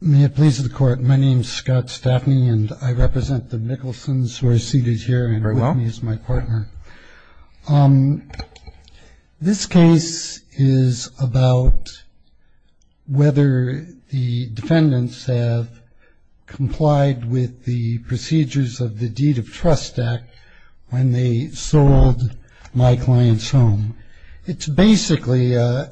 May it please the court, my name is Scott Staffney and I represent the Mickelsons who are seated here and with me is my partner. This case is about whether the defendants have complied with the procedures of the Deed of Trust Act when they sold my client's home. It's basically a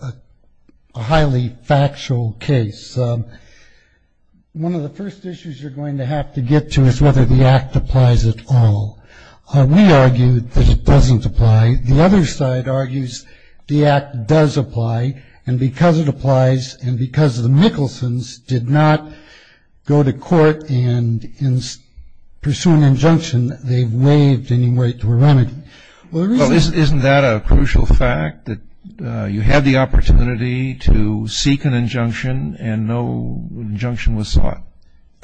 highly factual case. One of the first issues you're going to have to get to is whether the act applies at all. We argue that it doesn't apply. The other side argues the act does apply, and because it applies and because the Mickelsons did not go to court and pursue an injunction, they've waived any right to a remedy. Well, isn't that a crucial fact that you had the opportunity to seek an injunction and no injunction was sought?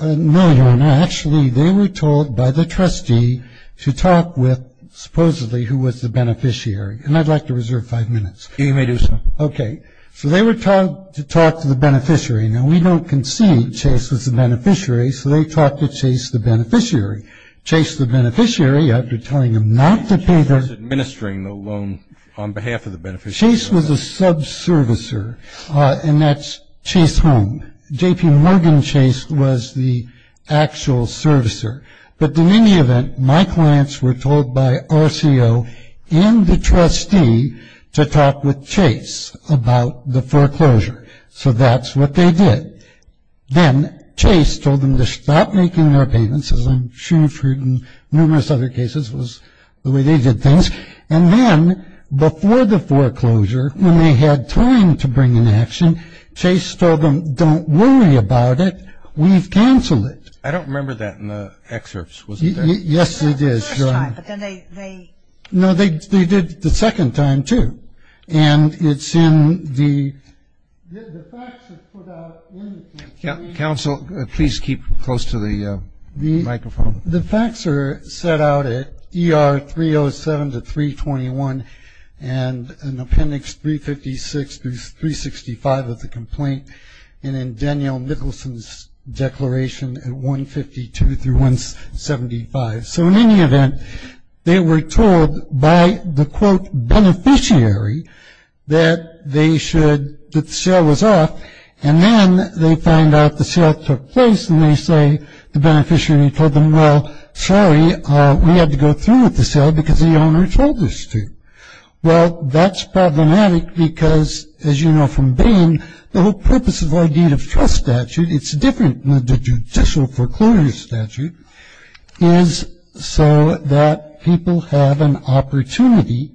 No, Your Honor. Actually, they were told by the trustee to talk with supposedly who was the beneficiary. And I'd like to reserve five minutes. You may do so. Okay. So they were told to talk to the beneficiary. Now, we don't concede Chase was the beneficiary, so they talked to Chase the beneficiary. Chase the beneficiary, after telling them not to pay their Chase was administering the loan on behalf of the beneficiary. Chase was a subservicer, and that's Chase Home. J.P. Morgan Chase was the actual servicer. But in any event, my clients were told by RCO and the trustee to talk with Chase about the foreclosure. So that's what they did. Then Chase told them to stop making their payments, as I'm sure you've heard in numerous other cases was the way they did things. And then before the foreclosure, when they had time to bring an action, Chase told them, don't worry about it. We've canceled it. I don't remember that in the excerpts, was it there? Yes, it is, Your Honor. The first time, but then they No, they did the second time, too. And it's in the The facts are put out in the Counsel, please keep close to the microphone. The facts are set out at ER 307 to 321, and in appendix 356 through 365 of the complaint, and in Danielle Nicholson's declaration at 152 through 175. So in any event, they were told by the, quote, beneficiary that they should, that the sale was off, and then they find out the sale took place and they say the beneficiary told them, well, sorry, we had to go through with the sale because the owner told us to. Well, that's problematic because, as you know from Bain, the whole purpose of our deed of trust statute, it's different than the judicial foreclosure statute, is so that people have an opportunity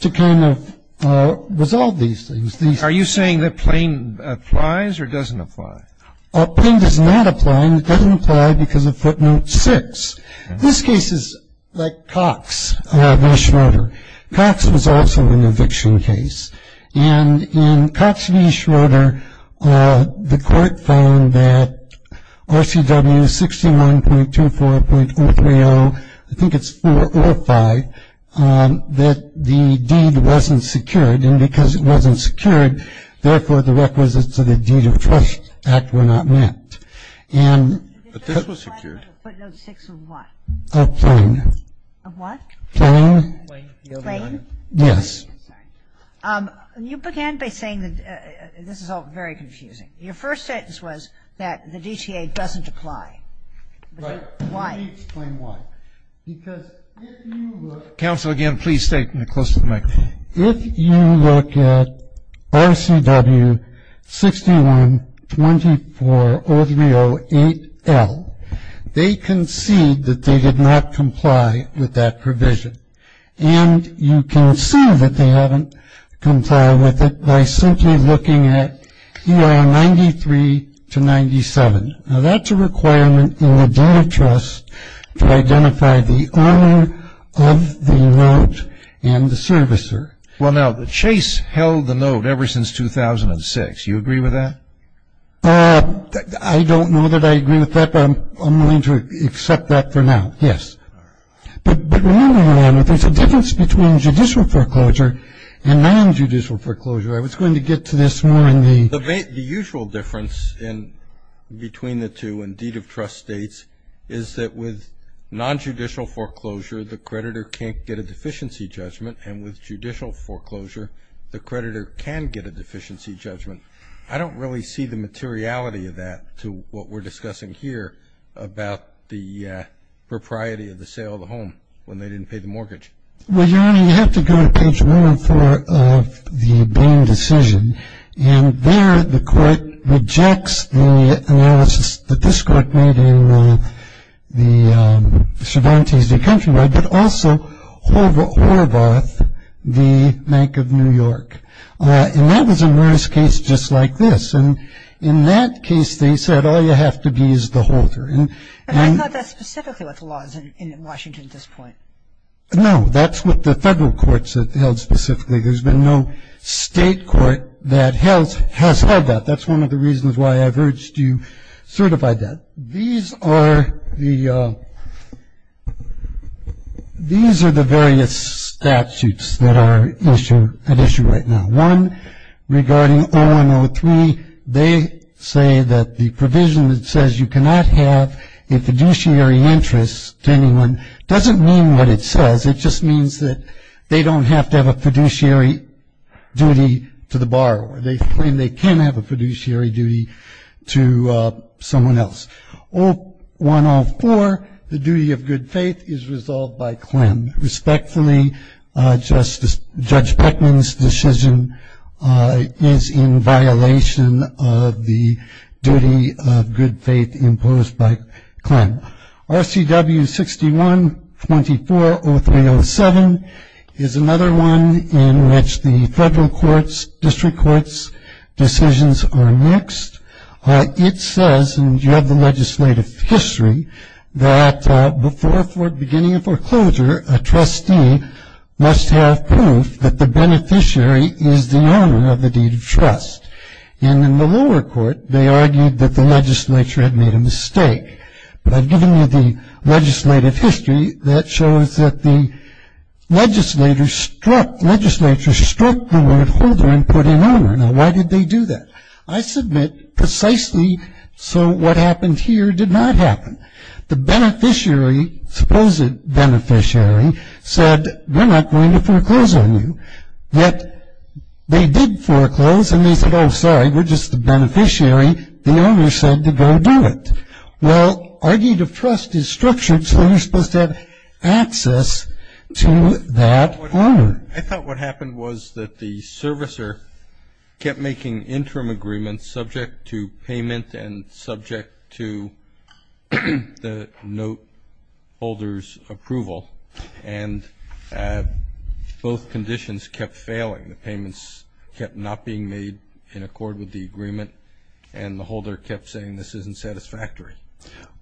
to kind of resolve these things. Are you saying that Bain applies or doesn't apply? Bain does not apply, and it doesn't apply because of footnote six. This case is like Cox v. Schroeder. Cox was also an eviction case. And in Cox v. Schroeder, the court found that RCW 61.24.030, I think it's four or five, that the deed wasn't secured, and because it wasn't secured, therefore the requisites of the deed of trust act were not met. But this was secured. Footnote six of what? Of Bain. Of what? Bain. Bain? Yes. You began by saying that this is all very confusing. Your first sentence was that the DTA doesn't apply. Right. Why? Can you explain why? Because if you look at RCW 61.24.0308L, they concede that they did not comply with that provision. And you can see that they haven't complied with it by simply looking at ER 93-97. Now, that's a requirement in the deed of trust to identify the owner of the note and the servicer. Well, now, Chase held the note ever since 2006. Do you agree with that? I don't know that I agree with that, but I'm willing to accept that for now, yes. But there's a difference between judicial foreclosure and nonjudicial foreclosure. I was going to get to this more in the The usual difference between the two in deed of trust states is that with nonjudicial foreclosure, the creditor can't get a deficiency judgment, and with judicial foreclosure, the creditor can get a deficiency judgment. I don't really see the materiality of that to what we're discussing here about the propriety of the sale of the home when they didn't pay the mortgage. Well, Your Honor, you have to go to page 104 of the Boehm decision, and there the court rejects the analysis that this court made in the Chevron Tuesday Country, but also Horvath, the Bank of New York. And that was a notice case just like this. And in that case, they said all you have to be is the holder. And I thought that's specifically what the law is in Washington at this point. No, that's what the federal courts have held specifically. There's been no state court that has held that. That's one of the reasons why I've urged you certify that. These are the various statutes that are at issue right now. One regarding 0103, they say that the provision that says you cannot have a fiduciary interest to anyone doesn't mean what it says. It just means that they don't have to have a fiduciary duty to the borrower. They claim they can have a fiduciary duty to someone else. 0104, the duty of good faith is resolved by Klem. Respectfully, Judge Peckman's decision is in violation of the duty of good faith imposed by Klem. RCW 61240307 is another one in which the federal courts, district courts' decisions are mixed. It says, and you have the legislative history, that before beginning a foreclosure, a trustee must have proof that the beneficiary is the owner of the deed of trust. And in the lower court, they argued that the legislature had made a mistake. But I've given you the legislative history that shows that the legislature struck the word holder and put in owner. Now, why did they do that? I submit precisely so what happened here did not happen. The beneficiary, supposed beneficiary, said, we're not going to foreclose on you. Yet they did foreclose, and they said, oh, sorry, we're just the beneficiary. The owner said to go do it. Well, our deed of trust is structured so you're supposed to have access to that owner. I thought what happened was that the servicer kept making interim agreements subject to payment and subject to the note holder's approval, and both conditions kept failing. The payments kept not being made in accord with the agreement, and the holder kept saying this isn't satisfactory.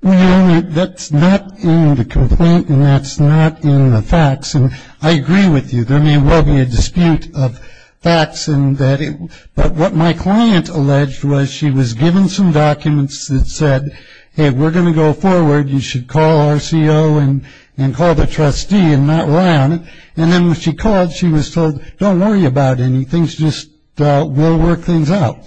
Well, that's not in the complaint, and that's not in the facts. And I agree with you, there may well be a dispute of facts, but what my client alleged was she was given some documents that said, hey, we're going to go forward. You should call our CO and call the trustee and not rely on it. And then when she called, she was told, don't worry about anything. So I think that's the kind of thing that's going to happen.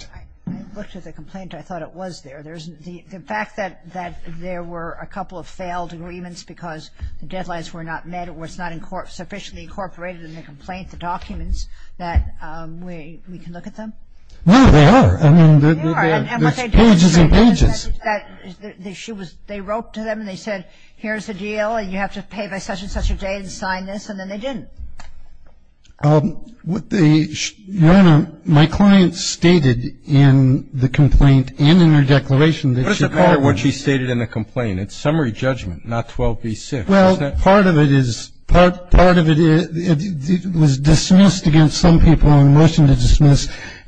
I think it's going to be a big deal, and I think things just will work things out. I looked at the complaint, and I thought it was there. The fact that there were a couple of failed agreements because the deadlines were not met or it's not sufficiently incorporated in the complaint, the documents, that we can look at them. No, they are. I mean, there's pages and pages. That that is the issue was they wrote to them and they said, here's the deal, and you have to pay by such and such a day to sign this, and then they didn't. What they my client stated in the complaint and in the declaration that What is the part of what she stated in the complaint. It's a summary judgment and not 12b-6. Well, part of it is part of it it was dismissed against some people in the motion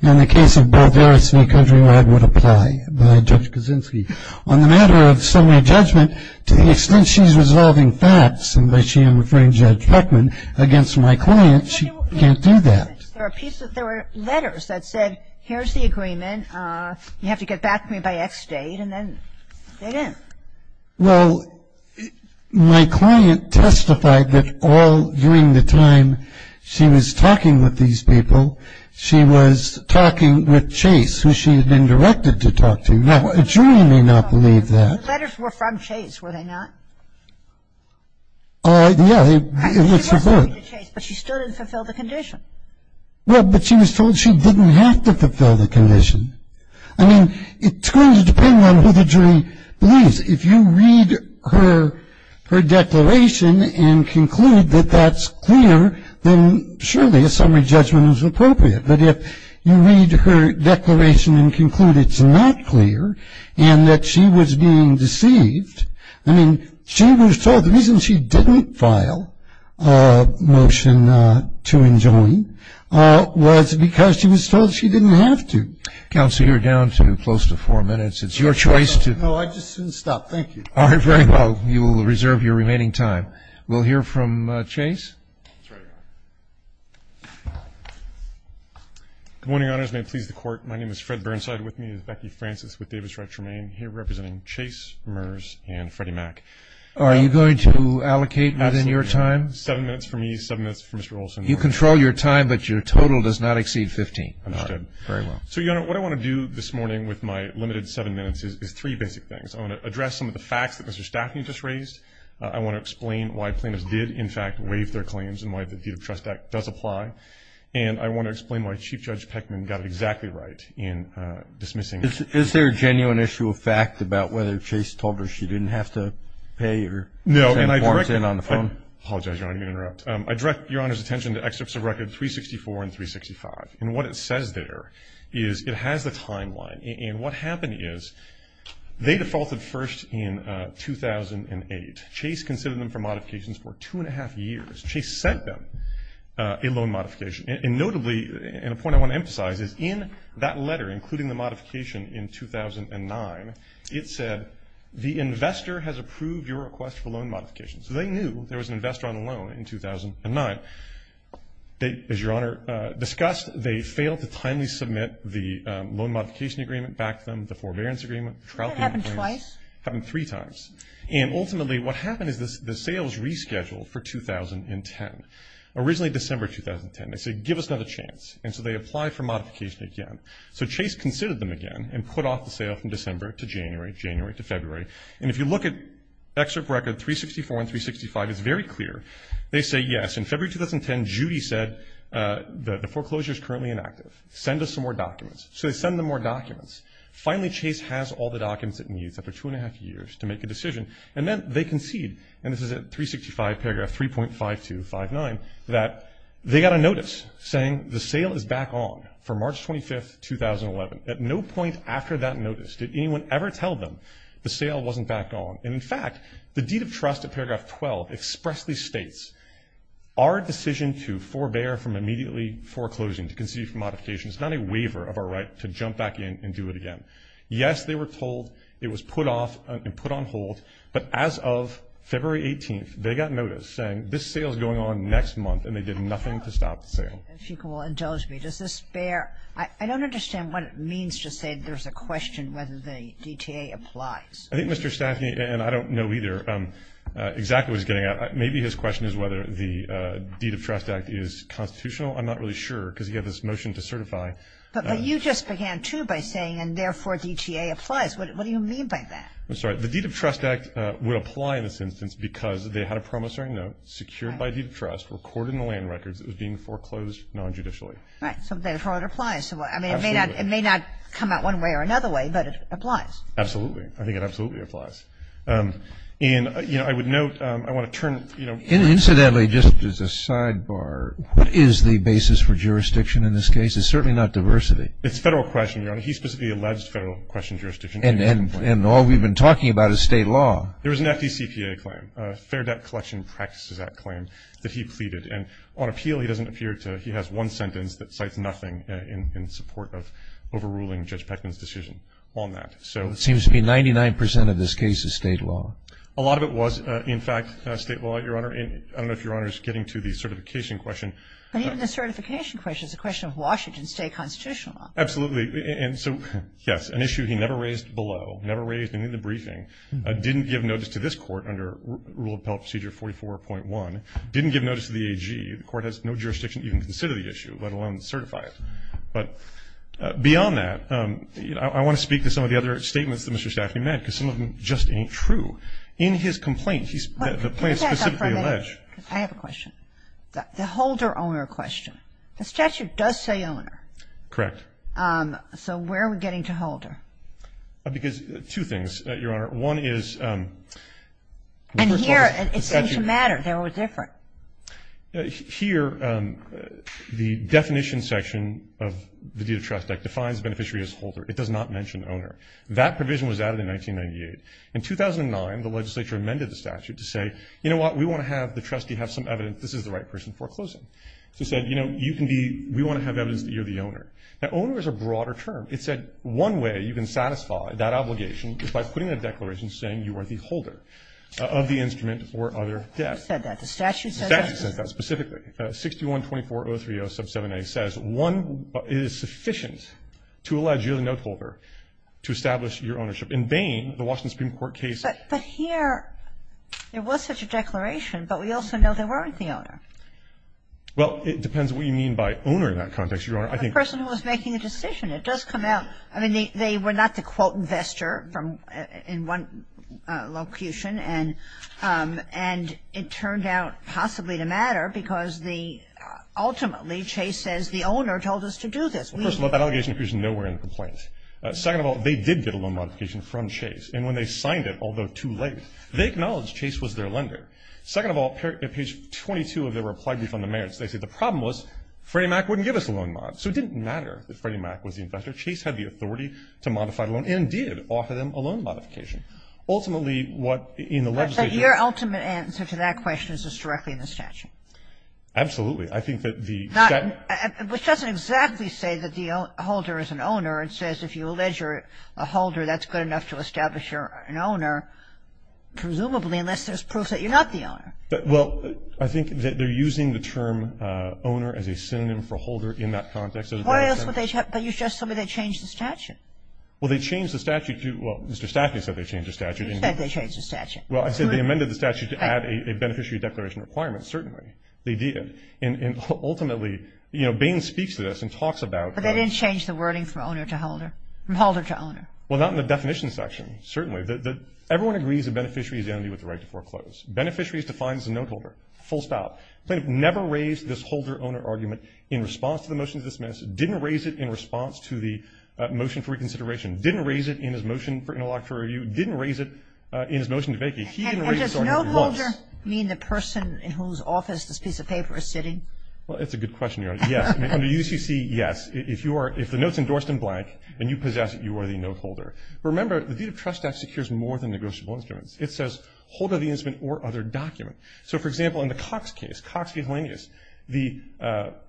In the case of both Eris and Countrywide would apply by Judge Kaczynski. On the matter of summary judgment, to the extent she's resolving facts, and by she I'm referring to Judge Heckman, against my client, she can't do that. There were letters that said, here's the agreement, you have to get back to me by X date, and then they didn't. Well, my client testified that all during the time she was talking with these people, she was talking with Chase, who she had been directed to talk to. Now, a jury may not believe that. The letters were from Chase, were they not? Yeah, it was her book. She was talking to Chase, but she still didn't fulfill the condition. Well, but she was told she didn't have to fulfill the condition. I mean, it's going to depend on who the jury believes. If you read her declaration and conclude that that's clear, then surely a summary judgment is appropriate. But if you read her declaration and conclude it's not clear, and that she was being deceived, I mean, she was told the reason she didn't file a motion to enjoin was because she was told she didn't have to. Counsel, you're down to close to four minutes. It's your choice to. No, I just didn't stop. Thank you. All right, very well. You will reserve your remaining time. We'll hear from Chase. Good morning, Honors. May it please the Court. My name is Fred Burnside. With me is Becky Francis with Davis RetroMaine. Here representing Chase, Merz, and Freddie Mack. Are you going to allocate within your time? Seven minutes for me, seven minutes for Mr. Olson. You control your time, but your total does not exceed 15. Understood. All right, very well. So, Your Honor, what I want to do this morning with my limited seven minutes is three basic things. I want to address some of the facts that Mr. Staffney just raised. I want to explain why plaintiffs did, in fact, waive their claims and why the Deed of Trust Act does apply. And I want to explain why Chief Judge Peckman got it exactly right in dismissing. Is there a genuine issue of fact about whether Chase told her she didn't have to pay or send warrants in on the phone? No, and I direct your Honor's attention to excerpts of records 364 and 365. And what it says there is it has the timeline. And what happened is they defaulted first in 2008. Chase considered them for modifications for two and a half years. Chase sent them a loan modification. And notably, and a point I want to emphasize is in that letter, including the modification in 2009, it said the investor has approved your request for loan modification. So they knew there was an investor on the loan in 2009. But as your Honor discussed, they failed to timely submit the loan modification agreement back to them, the forbearance agreement, the trial agreement. Did that happen twice? It happened three times. And ultimately what happened is the sales rescheduled for 2010, originally December 2010. They said, give us another chance. And so they applied for modification again. So Chase considered them again and put off the sale from December to January, January to February. And if you look at excerpt record 364 and 365, it's very clear. They say, yes, in February 2010, Judy said the foreclosure is currently inactive. Send us some more documents. So they send them more documents. Finally, Chase has all the documents it needs after two and a half years to make a decision. And then they concede, and this is at 365, paragraph 3.5259, that they got a notice saying the sale is back on for March 25, 2011. At no point after that notice did anyone ever tell them the sale wasn't back on. And, in fact, the deed of trust at paragraph 12 expressly states, our decision to forbear from immediately foreclosing, to concede from modification, is not a waiver of our right to jump back in and do it again. Yes, they were told it was put off and put on hold, but as of February 18th they got notice saying this sale is going on next month, and they did nothing to stop the sale. If you will indulge me, does this bear? I don't understand what it means to say there's a question whether the DTA applies. I think Mr. Staffney, and I don't know either, exactly what he's getting at. Maybe his question is whether the Deed of Trust Act is constitutional. I'm not really sure because he had this motion to certify. But you just began, too, by saying, and therefore DTA applies. What do you mean by that? I'm sorry. The Deed of Trust Act would apply in this instance because they had a promissory note, secured by Deed of Trust, recorded in the land records, that was being foreclosed non-judicially. Right. So therefore it applies. Absolutely. I mean, it may not come out one way or another way, but it applies. Absolutely. I think it absolutely applies. And, you know, I would note, I want to turn, you know. Incidentally, just as a sidebar, what is the basis for jurisdiction in this case? It's certainly not diversity. It's federal question, Your Honor. He specifically alleged federal question jurisdiction. And all we've been talking about is state law. There was an FDCPA claim, Fair Debt Collection Practices Act claim, that he pleaded. And on appeal he doesn't appear to, he has one sentence that cites nothing in support of overruling Judge Peckman's decision on that. It seems to be 99% of this case is state law. A lot of it was, in fact, state law, Your Honor. I don't know if Your Honor is getting to the certification question. But even the certification question is a question of Washington state constitutional law. Absolutely. And so, yes, an issue he never raised below, never raised in the briefing, didn't give notice to this Court under Rule of Appellate Procedure 44.1, didn't give notice to the AG. The Court has no jurisdiction to even consider the issue, let alone certify it. But beyond that, you know, I want to speak to some of the other statements that Mr. Staffrey made, because some of them just ain't true. In his complaint, he's, the plaintiff specifically alleged. I have a question. The Holder-Owner question. The statute does say owner. Correct. So where are we getting to Holder? Because two things, Your Honor. One is the first one is the statute. And here it seems to matter. They're all different. Here, the definition section of the deed of trust act defines the beneficiary as holder. It does not mention owner. That provision was added in 1998. In 2009, the legislature amended the statute to say, you know what, we want to have the trustee have some evidence this is the right person foreclosing. So it said, you know, you can be, we want to have evidence that you're the owner. Now, owner is a broader term. It said one way you can satisfy that obligation is by putting a declaration saying you are the holder of the instrument or other debt. The statute said that. The statute said that. The statute said that specifically. 6124030 sub 7A says one is sufficient to allege you're the note holder to establish your ownership. In Bain, the Washington Supreme Court case. But here, there was such a declaration, but we also know they weren't the owner. Well, it depends what you mean by owner in that context, Your Honor. I think the person was making a decision. It does come out. I mean, they were not the, quote, investor in one locution. And it turned out possibly to matter because the, ultimately, Chase says the owner told us to do this. Well, first of all, that allegation appears nowhere in the complaint. Second of all, they did get a loan modification from Chase. And when they signed it, although too late, they acknowledged Chase was their lender. Second of all, at page 22 of their reply brief on the merits, they said the problem was Freddie Mac wouldn't give us a loan mod. So it didn't matter that Freddie Mac was the investor. Chase had the authority to modify the loan and did offer them a loan modification. Ultimately, what in the legislature ---- But your ultimate answer to that question is just directly in the statute. Absolutely. I think that the statute ---- Which doesn't exactly say that the holder is an owner. It says if you allege you're a holder, that's good enough to establish you're an owner, presumably, unless there's proof that you're not the owner. Well, I think that they're using the term owner as a synonym for holder in that context. Why else would they ---- But you just said they changed the statute. Well, they changed the statute to ---- Well, Mr. Stafford said they changed the statute. You said they changed the statute. Well, I said they amended the statute to add a beneficiary declaration requirement. Certainly, they did. And ultimately, you know, Bain speaks to this and talks about ---- But they didn't change the wording from owner to holder, from holder to owner. Well, not in the definition section, certainly. Everyone agrees a beneficiary is the entity with the right to foreclose. Beneficiary is defined as a note holder, full stop. Plaintiff never raised this holder-owner argument in response to the motion to dismiss. Didn't raise it in response to the motion for reconsideration. Didn't raise it in his motion for interlocutor review. Didn't raise it in his motion to vacate. He didn't raise this argument once. And does note holder mean the person in whose office this piece of paper is sitting? Well, it's a good question, Your Honor. Yes. Under UCC, yes. If the note's endorsed in blank and you possess it, you are the note holder. Remember, the deed of trust act secures more than negotiable instruments. It says holder of the instrument or other document. So, for example, in the Cox case, Cox v. Heleneus, the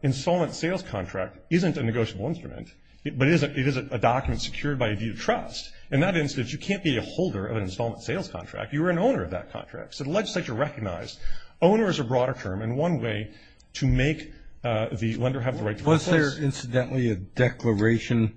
installment sales contract isn't a negotiable instrument, but it is a document secured by a deed of trust. In that instance, you can't be a holder of an installment sales contract. You are an owner of that contract. So the legislature recognized owner is a broader term and one way to make the lender have the right to foreclose. Was there, incidentally, a declaration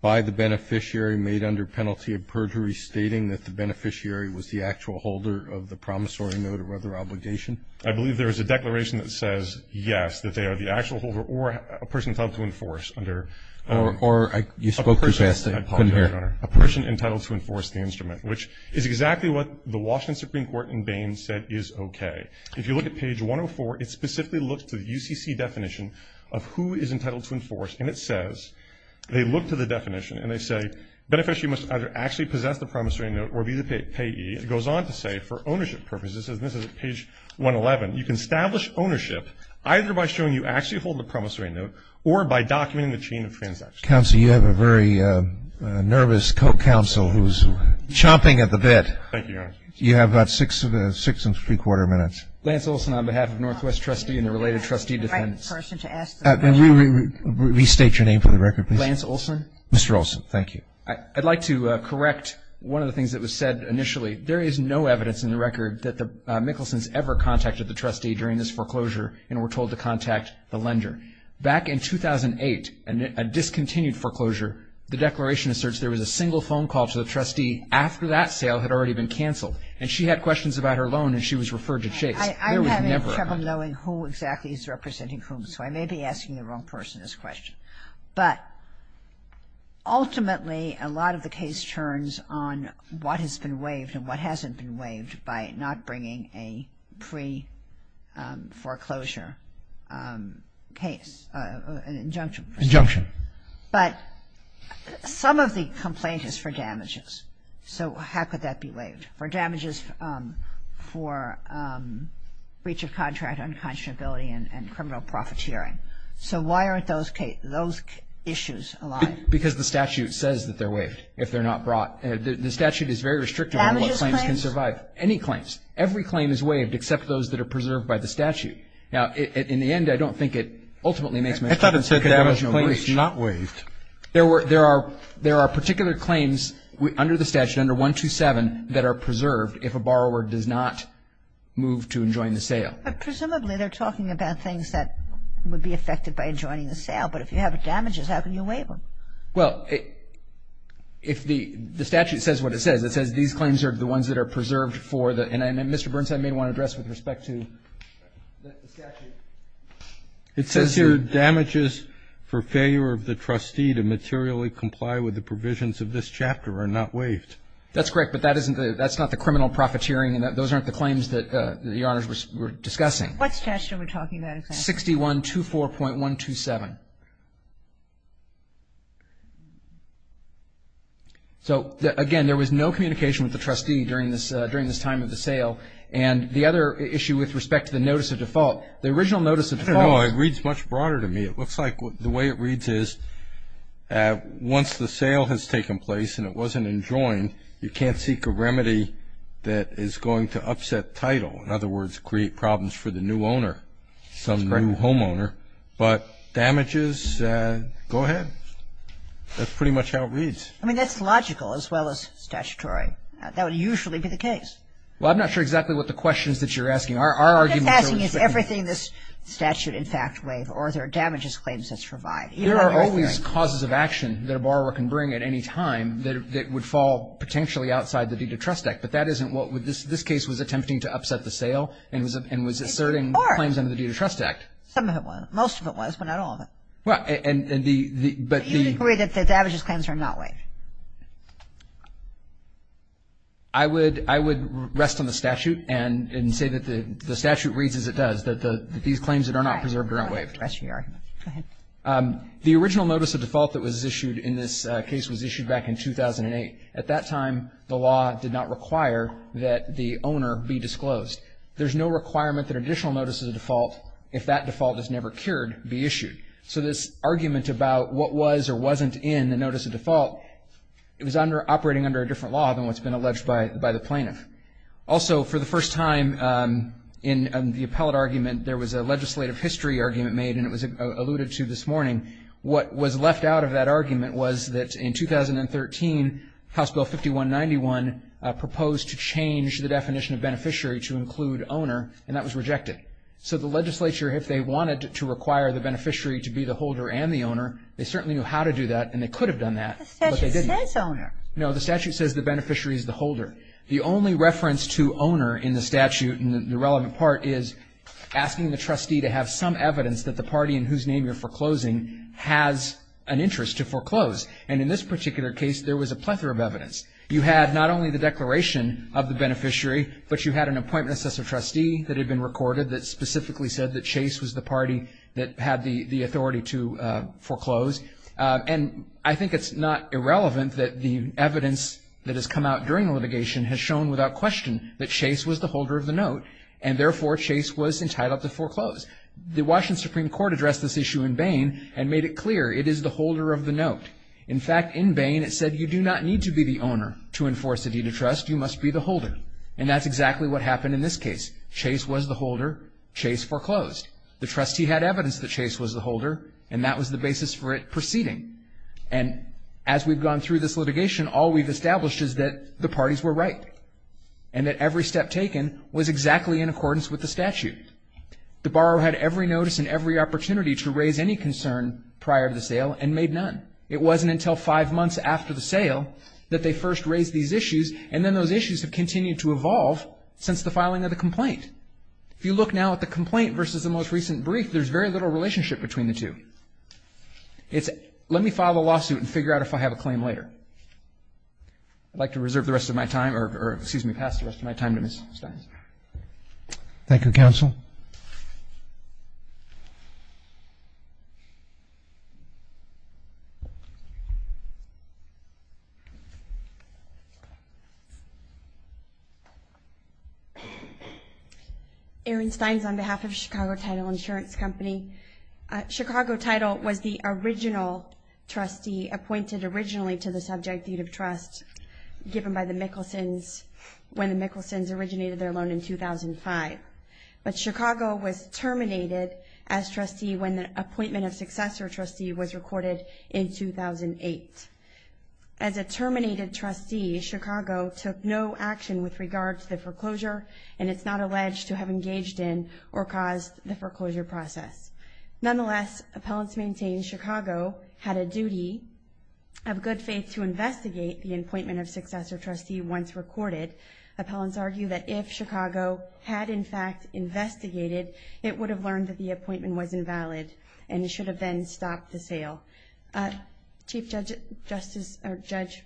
by the beneficiary made under penalty of perjury stating that the beneficiary was the actual holder of the promissory note or other obligation? I believe there was a declaration that says, yes, that they are the actual holder or a person entitled to enforce under a person entitled to enforce the instrument, which is exactly what the Washington Supreme Court in Bain said is okay. If you look at page 104, it specifically looks to the UCC definition of who is entitled to enforce, and it says they look to the definition and they say, beneficiary must either actually possess the promissory note or be the payee. It goes on to say, for ownership purposes, this is page 111, you can establish ownership either by showing you actually hold the promissory note or by documenting the chain of transactions. Counsel, you have a very nervous co-counsel who's chomping at the bit. Thank you, Your Honor. You have about six and three-quarter minutes. Lance Olson on behalf of Northwest Trustee and the related trustee defendants. Can you restate your name for the record, please? Lance Olson. Mr. Olson, thank you. I'd like to correct one of the things that was said initially. There is no evidence in the record that the Mickelsons ever contacted the trustee during this foreclosure and were told to contact the lender. Back in 2008, a discontinued foreclosure, the declaration asserts there was a single phone call to the trustee after that sale had already been canceled, and she had questions about her loan and she was referred to Chase. I'm having trouble knowing who exactly is representing whom, so I may be asking the wrong person this question. But ultimately, a lot of the case turns on what has been waived and what hasn't been waived by not bringing a pre-foreclosure case, an injunction. Injunction. But some of the complaint is for damages. So how could that be waived? For damages for breach of contract, unconscionability, and criminal profiteering. So why aren't those issues alive? Because the statute says that they're waived if they're not brought. The statute is very restrictive on what claims can survive. Damages claims? Any claims. Every claim is waived except those that are preserved by the statute. Now, in the end, I don't think it ultimately makes much sense. I thought it said damages claims not waived. There are particular claims under the statute, under 127, that are preserved if a borrower does not move to and join the sale. But presumably, they're talking about things that would be affected by joining the sale. But if you have damages, how can you waive them? Well, if the statute says what it says, it says these claims are the ones that are preserved for the — and, Mr. Burns, I may want to address with respect to the statute. It says here, Damages for failure of the trustee to materially comply with the provisions of this chapter are not waived. That's correct. But that's not the criminal profiteering. Those aren't the claims that the honors were discussing. What's the chapter we're talking about? 61-24.127. So, again, there was no communication with the trustee during this time of the sale. And the other issue with respect to the notice of default, the original notice of default — I don't know. It reads much broader to me. It looks like the way it reads is once the sale has taken place and it wasn't enjoined, you can't seek a remedy that is going to upset title. In other words, create problems for the new owner, some new homeowner. That's correct. But damages, go ahead. That's pretty much how it reads. I mean, that's logical as well as statutory. That would usually be the case. Well, I'm not sure exactly what the question is that you're asking. Our argument is that — What I'm asking is everything this statute, in fact, waived or there are damages claims that's revived. There are always causes of action that a borrower can bring at any time that would fall potentially outside the deed of trust act. But that isn't what — this case was attempting to upset the sale and was asserting claims under the deed of trust act. Some of it was. Most of it was, but not all of it. Well, and the — Do you agree that the damages claims are not waived? I would rest on the statute and say that the statute reads as it does, that these claims that are not preserved are not waived. Go ahead. The original notice of default that was issued in this case was issued back in 2008. At that time, the law did not require that the owner be disclosed. There's no requirement that additional notices of default, if that default is never cured, be issued. So this argument about what was or wasn't in the notice of default, it was operating under a different law than what's been alleged by the plaintiff. Also, for the first time in the appellate argument, there was a legislative history argument made, and it was alluded to this morning. What was left out of that argument was that in 2013, House Bill 5191 proposed to change the definition of beneficiary to include owner, and that was rejected. So the legislature, if they wanted to require the beneficiary to be the holder and the owner, they certainly knew how to do that, and they could have done that, but they didn't. The statute says owner. No, the statute says the beneficiary is the holder. The only reference to owner in the statute, and the relevant part, is asking the trustee to have some evidence that the party in whose name you're foreclosing has an interest to foreclose. And in this particular case, there was a plethora of evidence. You had not only the declaration of the beneficiary, but you had an appointment assessor trustee that had been recorded that specifically said that Chase was the party that had the authority to foreclose. And I think it's not irrelevant that the evidence that has come out during the litigation has shown without question that Chase was the holder of the note, and therefore Chase was entitled to foreclose. The Washington Supreme Court addressed this issue in Bain and made it clear it is the holder of the note. In fact, in Bain, it said you do not need to be the owner to enforce a deed of trust. You must be the holder, and that's exactly what happened in this case. Chase was the holder. Chase foreclosed. The trustee had evidence that Chase was the holder, and that was the basis for it proceeding. And as we've gone through this litigation, all we've established is that the parties were right and that every step taken was exactly in accordance with the statute. The borrower had every notice and every opportunity to raise any concern prior to the sale and made none. It wasn't until five months after the sale that they first raised these issues, and then those issues have continued to evolve since the filing of the complaint. If you look now at the complaint versus the most recent brief, there's very little relationship between the two. It's let me file a lawsuit and figure out if I have a claim later. I'd like to reserve the rest of my time, or excuse me, pass the rest of my time to Ms. Steins. Thank you, counsel. Thank you. Erin Steins on behalf of Chicago Title Insurance Company. Chicago Title was the original trustee appointed originally to the subject deed of trust given by the Mickelsons when the Mickelsons originated their loan in 2005. But Chicago was terminated as trustee when the appointment of successor trustee was recorded in 2008. As a terminated trustee, Chicago took no action with regard to the foreclosure, and it's not alleged to have engaged in or caused the foreclosure process. Nonetheless, appellants maintain Chicago had a duty of good faith to investigate the appointment of successor trustee once recorded. Appellants argue that if Chicago had, in fact, investigated, it would have learned that the appointment was invalid, and it should have then stopped the sale. Chief Judge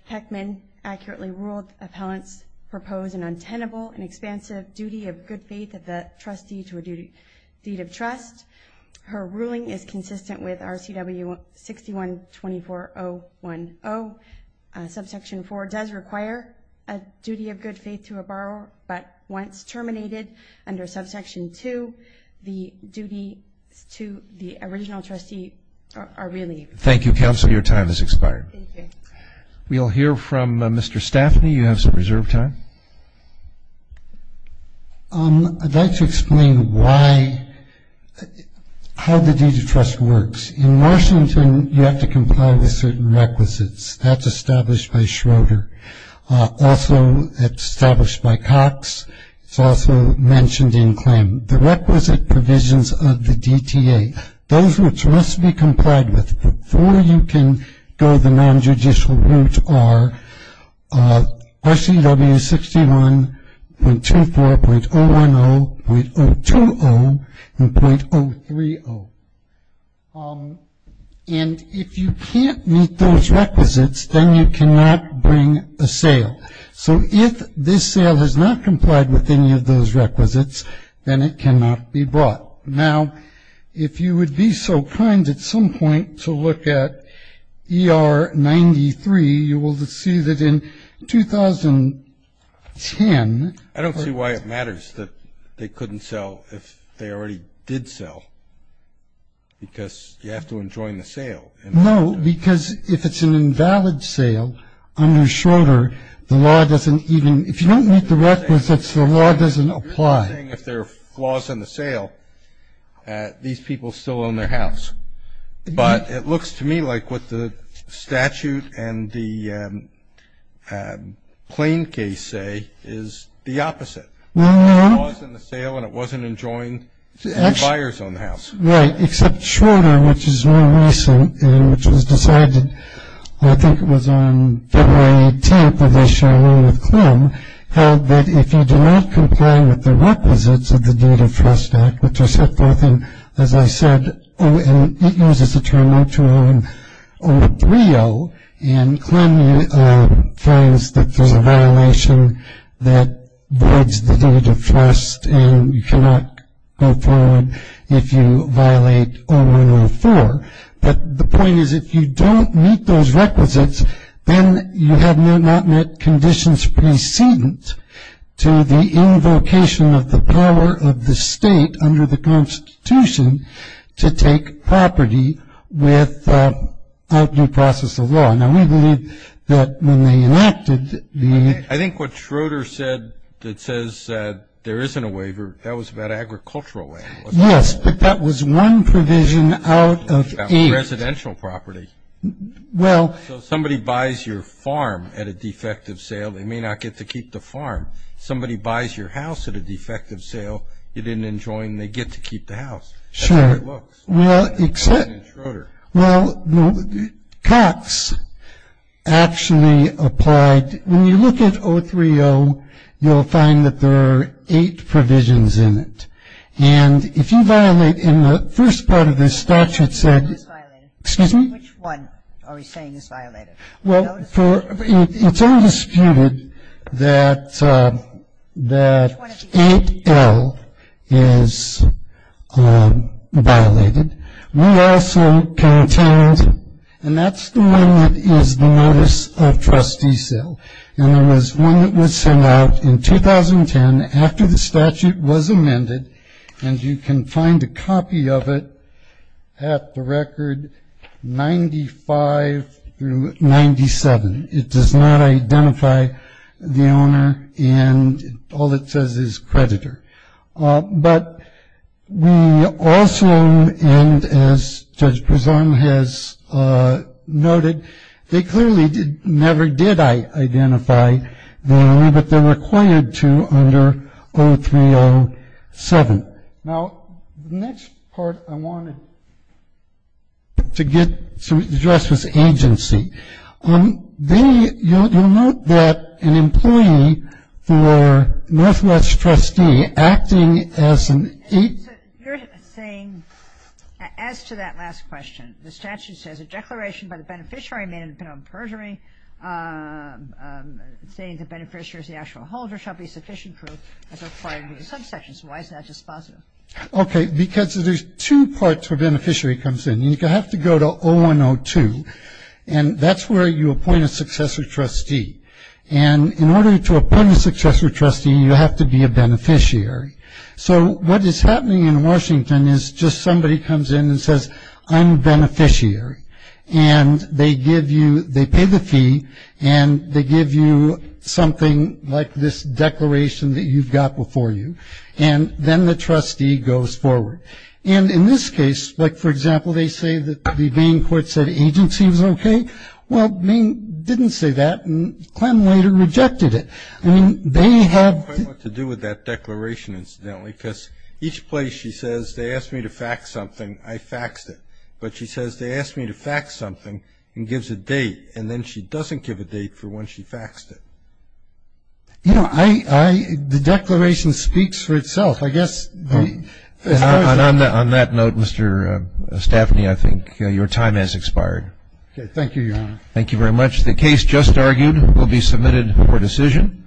Peckman accurately ruled appellants propose an untenable and expansive duty of good faith of the trustee to a deed of trust. Her ruling is consistent with RCW 6124010. Subsection 4 does require a duty of good faith to a borrower, but once terminated under subsection 2, the duties to the original trustee are relieved. Thank you, counsel. Your time has expired. Thank you. We'll hear from Mr. Staffney. You have some reserved time. I'd like to explain why the deed of trust works. In Washington, you have to comply with certain requisites. That's established by Schroeder. Also, it's established by Cox. It's also mentioned in claim. The requisite provisions of the DTA, those which must be complied with before you can go the nonjudicial route, RCW 61.24, .010, .020, and .030. And if you can't meet those requisites, then you cannot bring a sale. So if this sale has not complied with any of those requisites, then it cannot be brought. Now, if you would be so kind at some point to look at ER 93, you will see that in 2010. I don't see why it matters that they couldn't sell if they already did sell, because you have to enjoin the sale. No, because if it's an invalid sale under Schroeder, the law doesn't even, if you don't meet the requisites, the law doesn't apply. I'm not saying if there are flaws in the sale, these people still own their house. But it looks to me like what the statute and the plain case say is the opposite. There are flaws in the sale, and it wasn't enjoined to any buyers on the house. Right, except Schroeder, which is more recent, and which was decided, I think it was on February 18th, held that if you do not comply with the requisites of the Duty of Trust Act, which are set forth in, as I said, and it uses the term O2O and O3O, and CLEM finds that there's a violation that voids the duty of trust, and you cannot go forward if you violate O1O4. But the point is if you don't meet those requisites, then you have not met conditions precedent to the invocation of the power of the state under the Constitution to take property without due process of law. Now, we believe that when they enacted the... I think what Schroeder said that says there isn't a waiver, that was about agricultural land. Yes, but that was one provision out of eight. Residential property. Well... So somebody buys your farm at a defective sale, they may not get to keep the farm. Somebody buys your house at a defective sale, you didn't enjoin, they get to keep the house. Sure. That's the way it looks. Well, except... In Schroeder. Well, Cox actually applied... When you look at O3O, you'll find that there are eight provisions in it. And if you violate... In the first part of this statute said... Which one is violated? Excuse me? Which one are we saying is violated? Well, it's undisputed that 8L is violated. We also contained... And that's the one that is the notice of trustee sale. And there was one that was sent out in 2010 after the statute was amended. And you can find a copy of it at the record 95 through 97. It does not identify the owner, and all it says is creditor. But we also, and as Judge Prezone has noted, they clearly never did identify the owner, but they're required to under O3O7. Now, the next part I wanted to get to address was agency. They... You'll note that an employee for Northwest trustee acting as an... So you're saying as to that last question, the statute says a declaration by the beneficiary made on purgatory, saying the beneficiary is the actual holder, shall be sufficient proof as required in these subsections. Why is that just positive? Okay, because there's two parts where beneficiary comes in. You have to go to 0102, and that's where you appoint a successor trustee. And in order to appoint a successor trustee, you have to be a beneficiary. So what is happening in Washington is just somebody comes in and says, I'm a beneficiary. And they give you, they pay the fee, and they give you something like this declaration that you've got before you. And then the trustee goes forward. And in this case, like, for example, they say that the Bain court said agency was okay. Well, Bain didn't say that, and Clem later rejected it. I mean, they have... I don't quite know what to do with that declaration, incidentally, because each place she says they asked me to fax something, I faxed it. But she says they asked me to fax something and gives a date, and then she doesn't give a date for when she faxed it. You know, I... The declaration speaks for itself. I guess... And on that note, Mr. Staffney, I think your time has expired. Okay. Thank you, Your Honor. Thank you very much. The case just argued will be submitted for decision.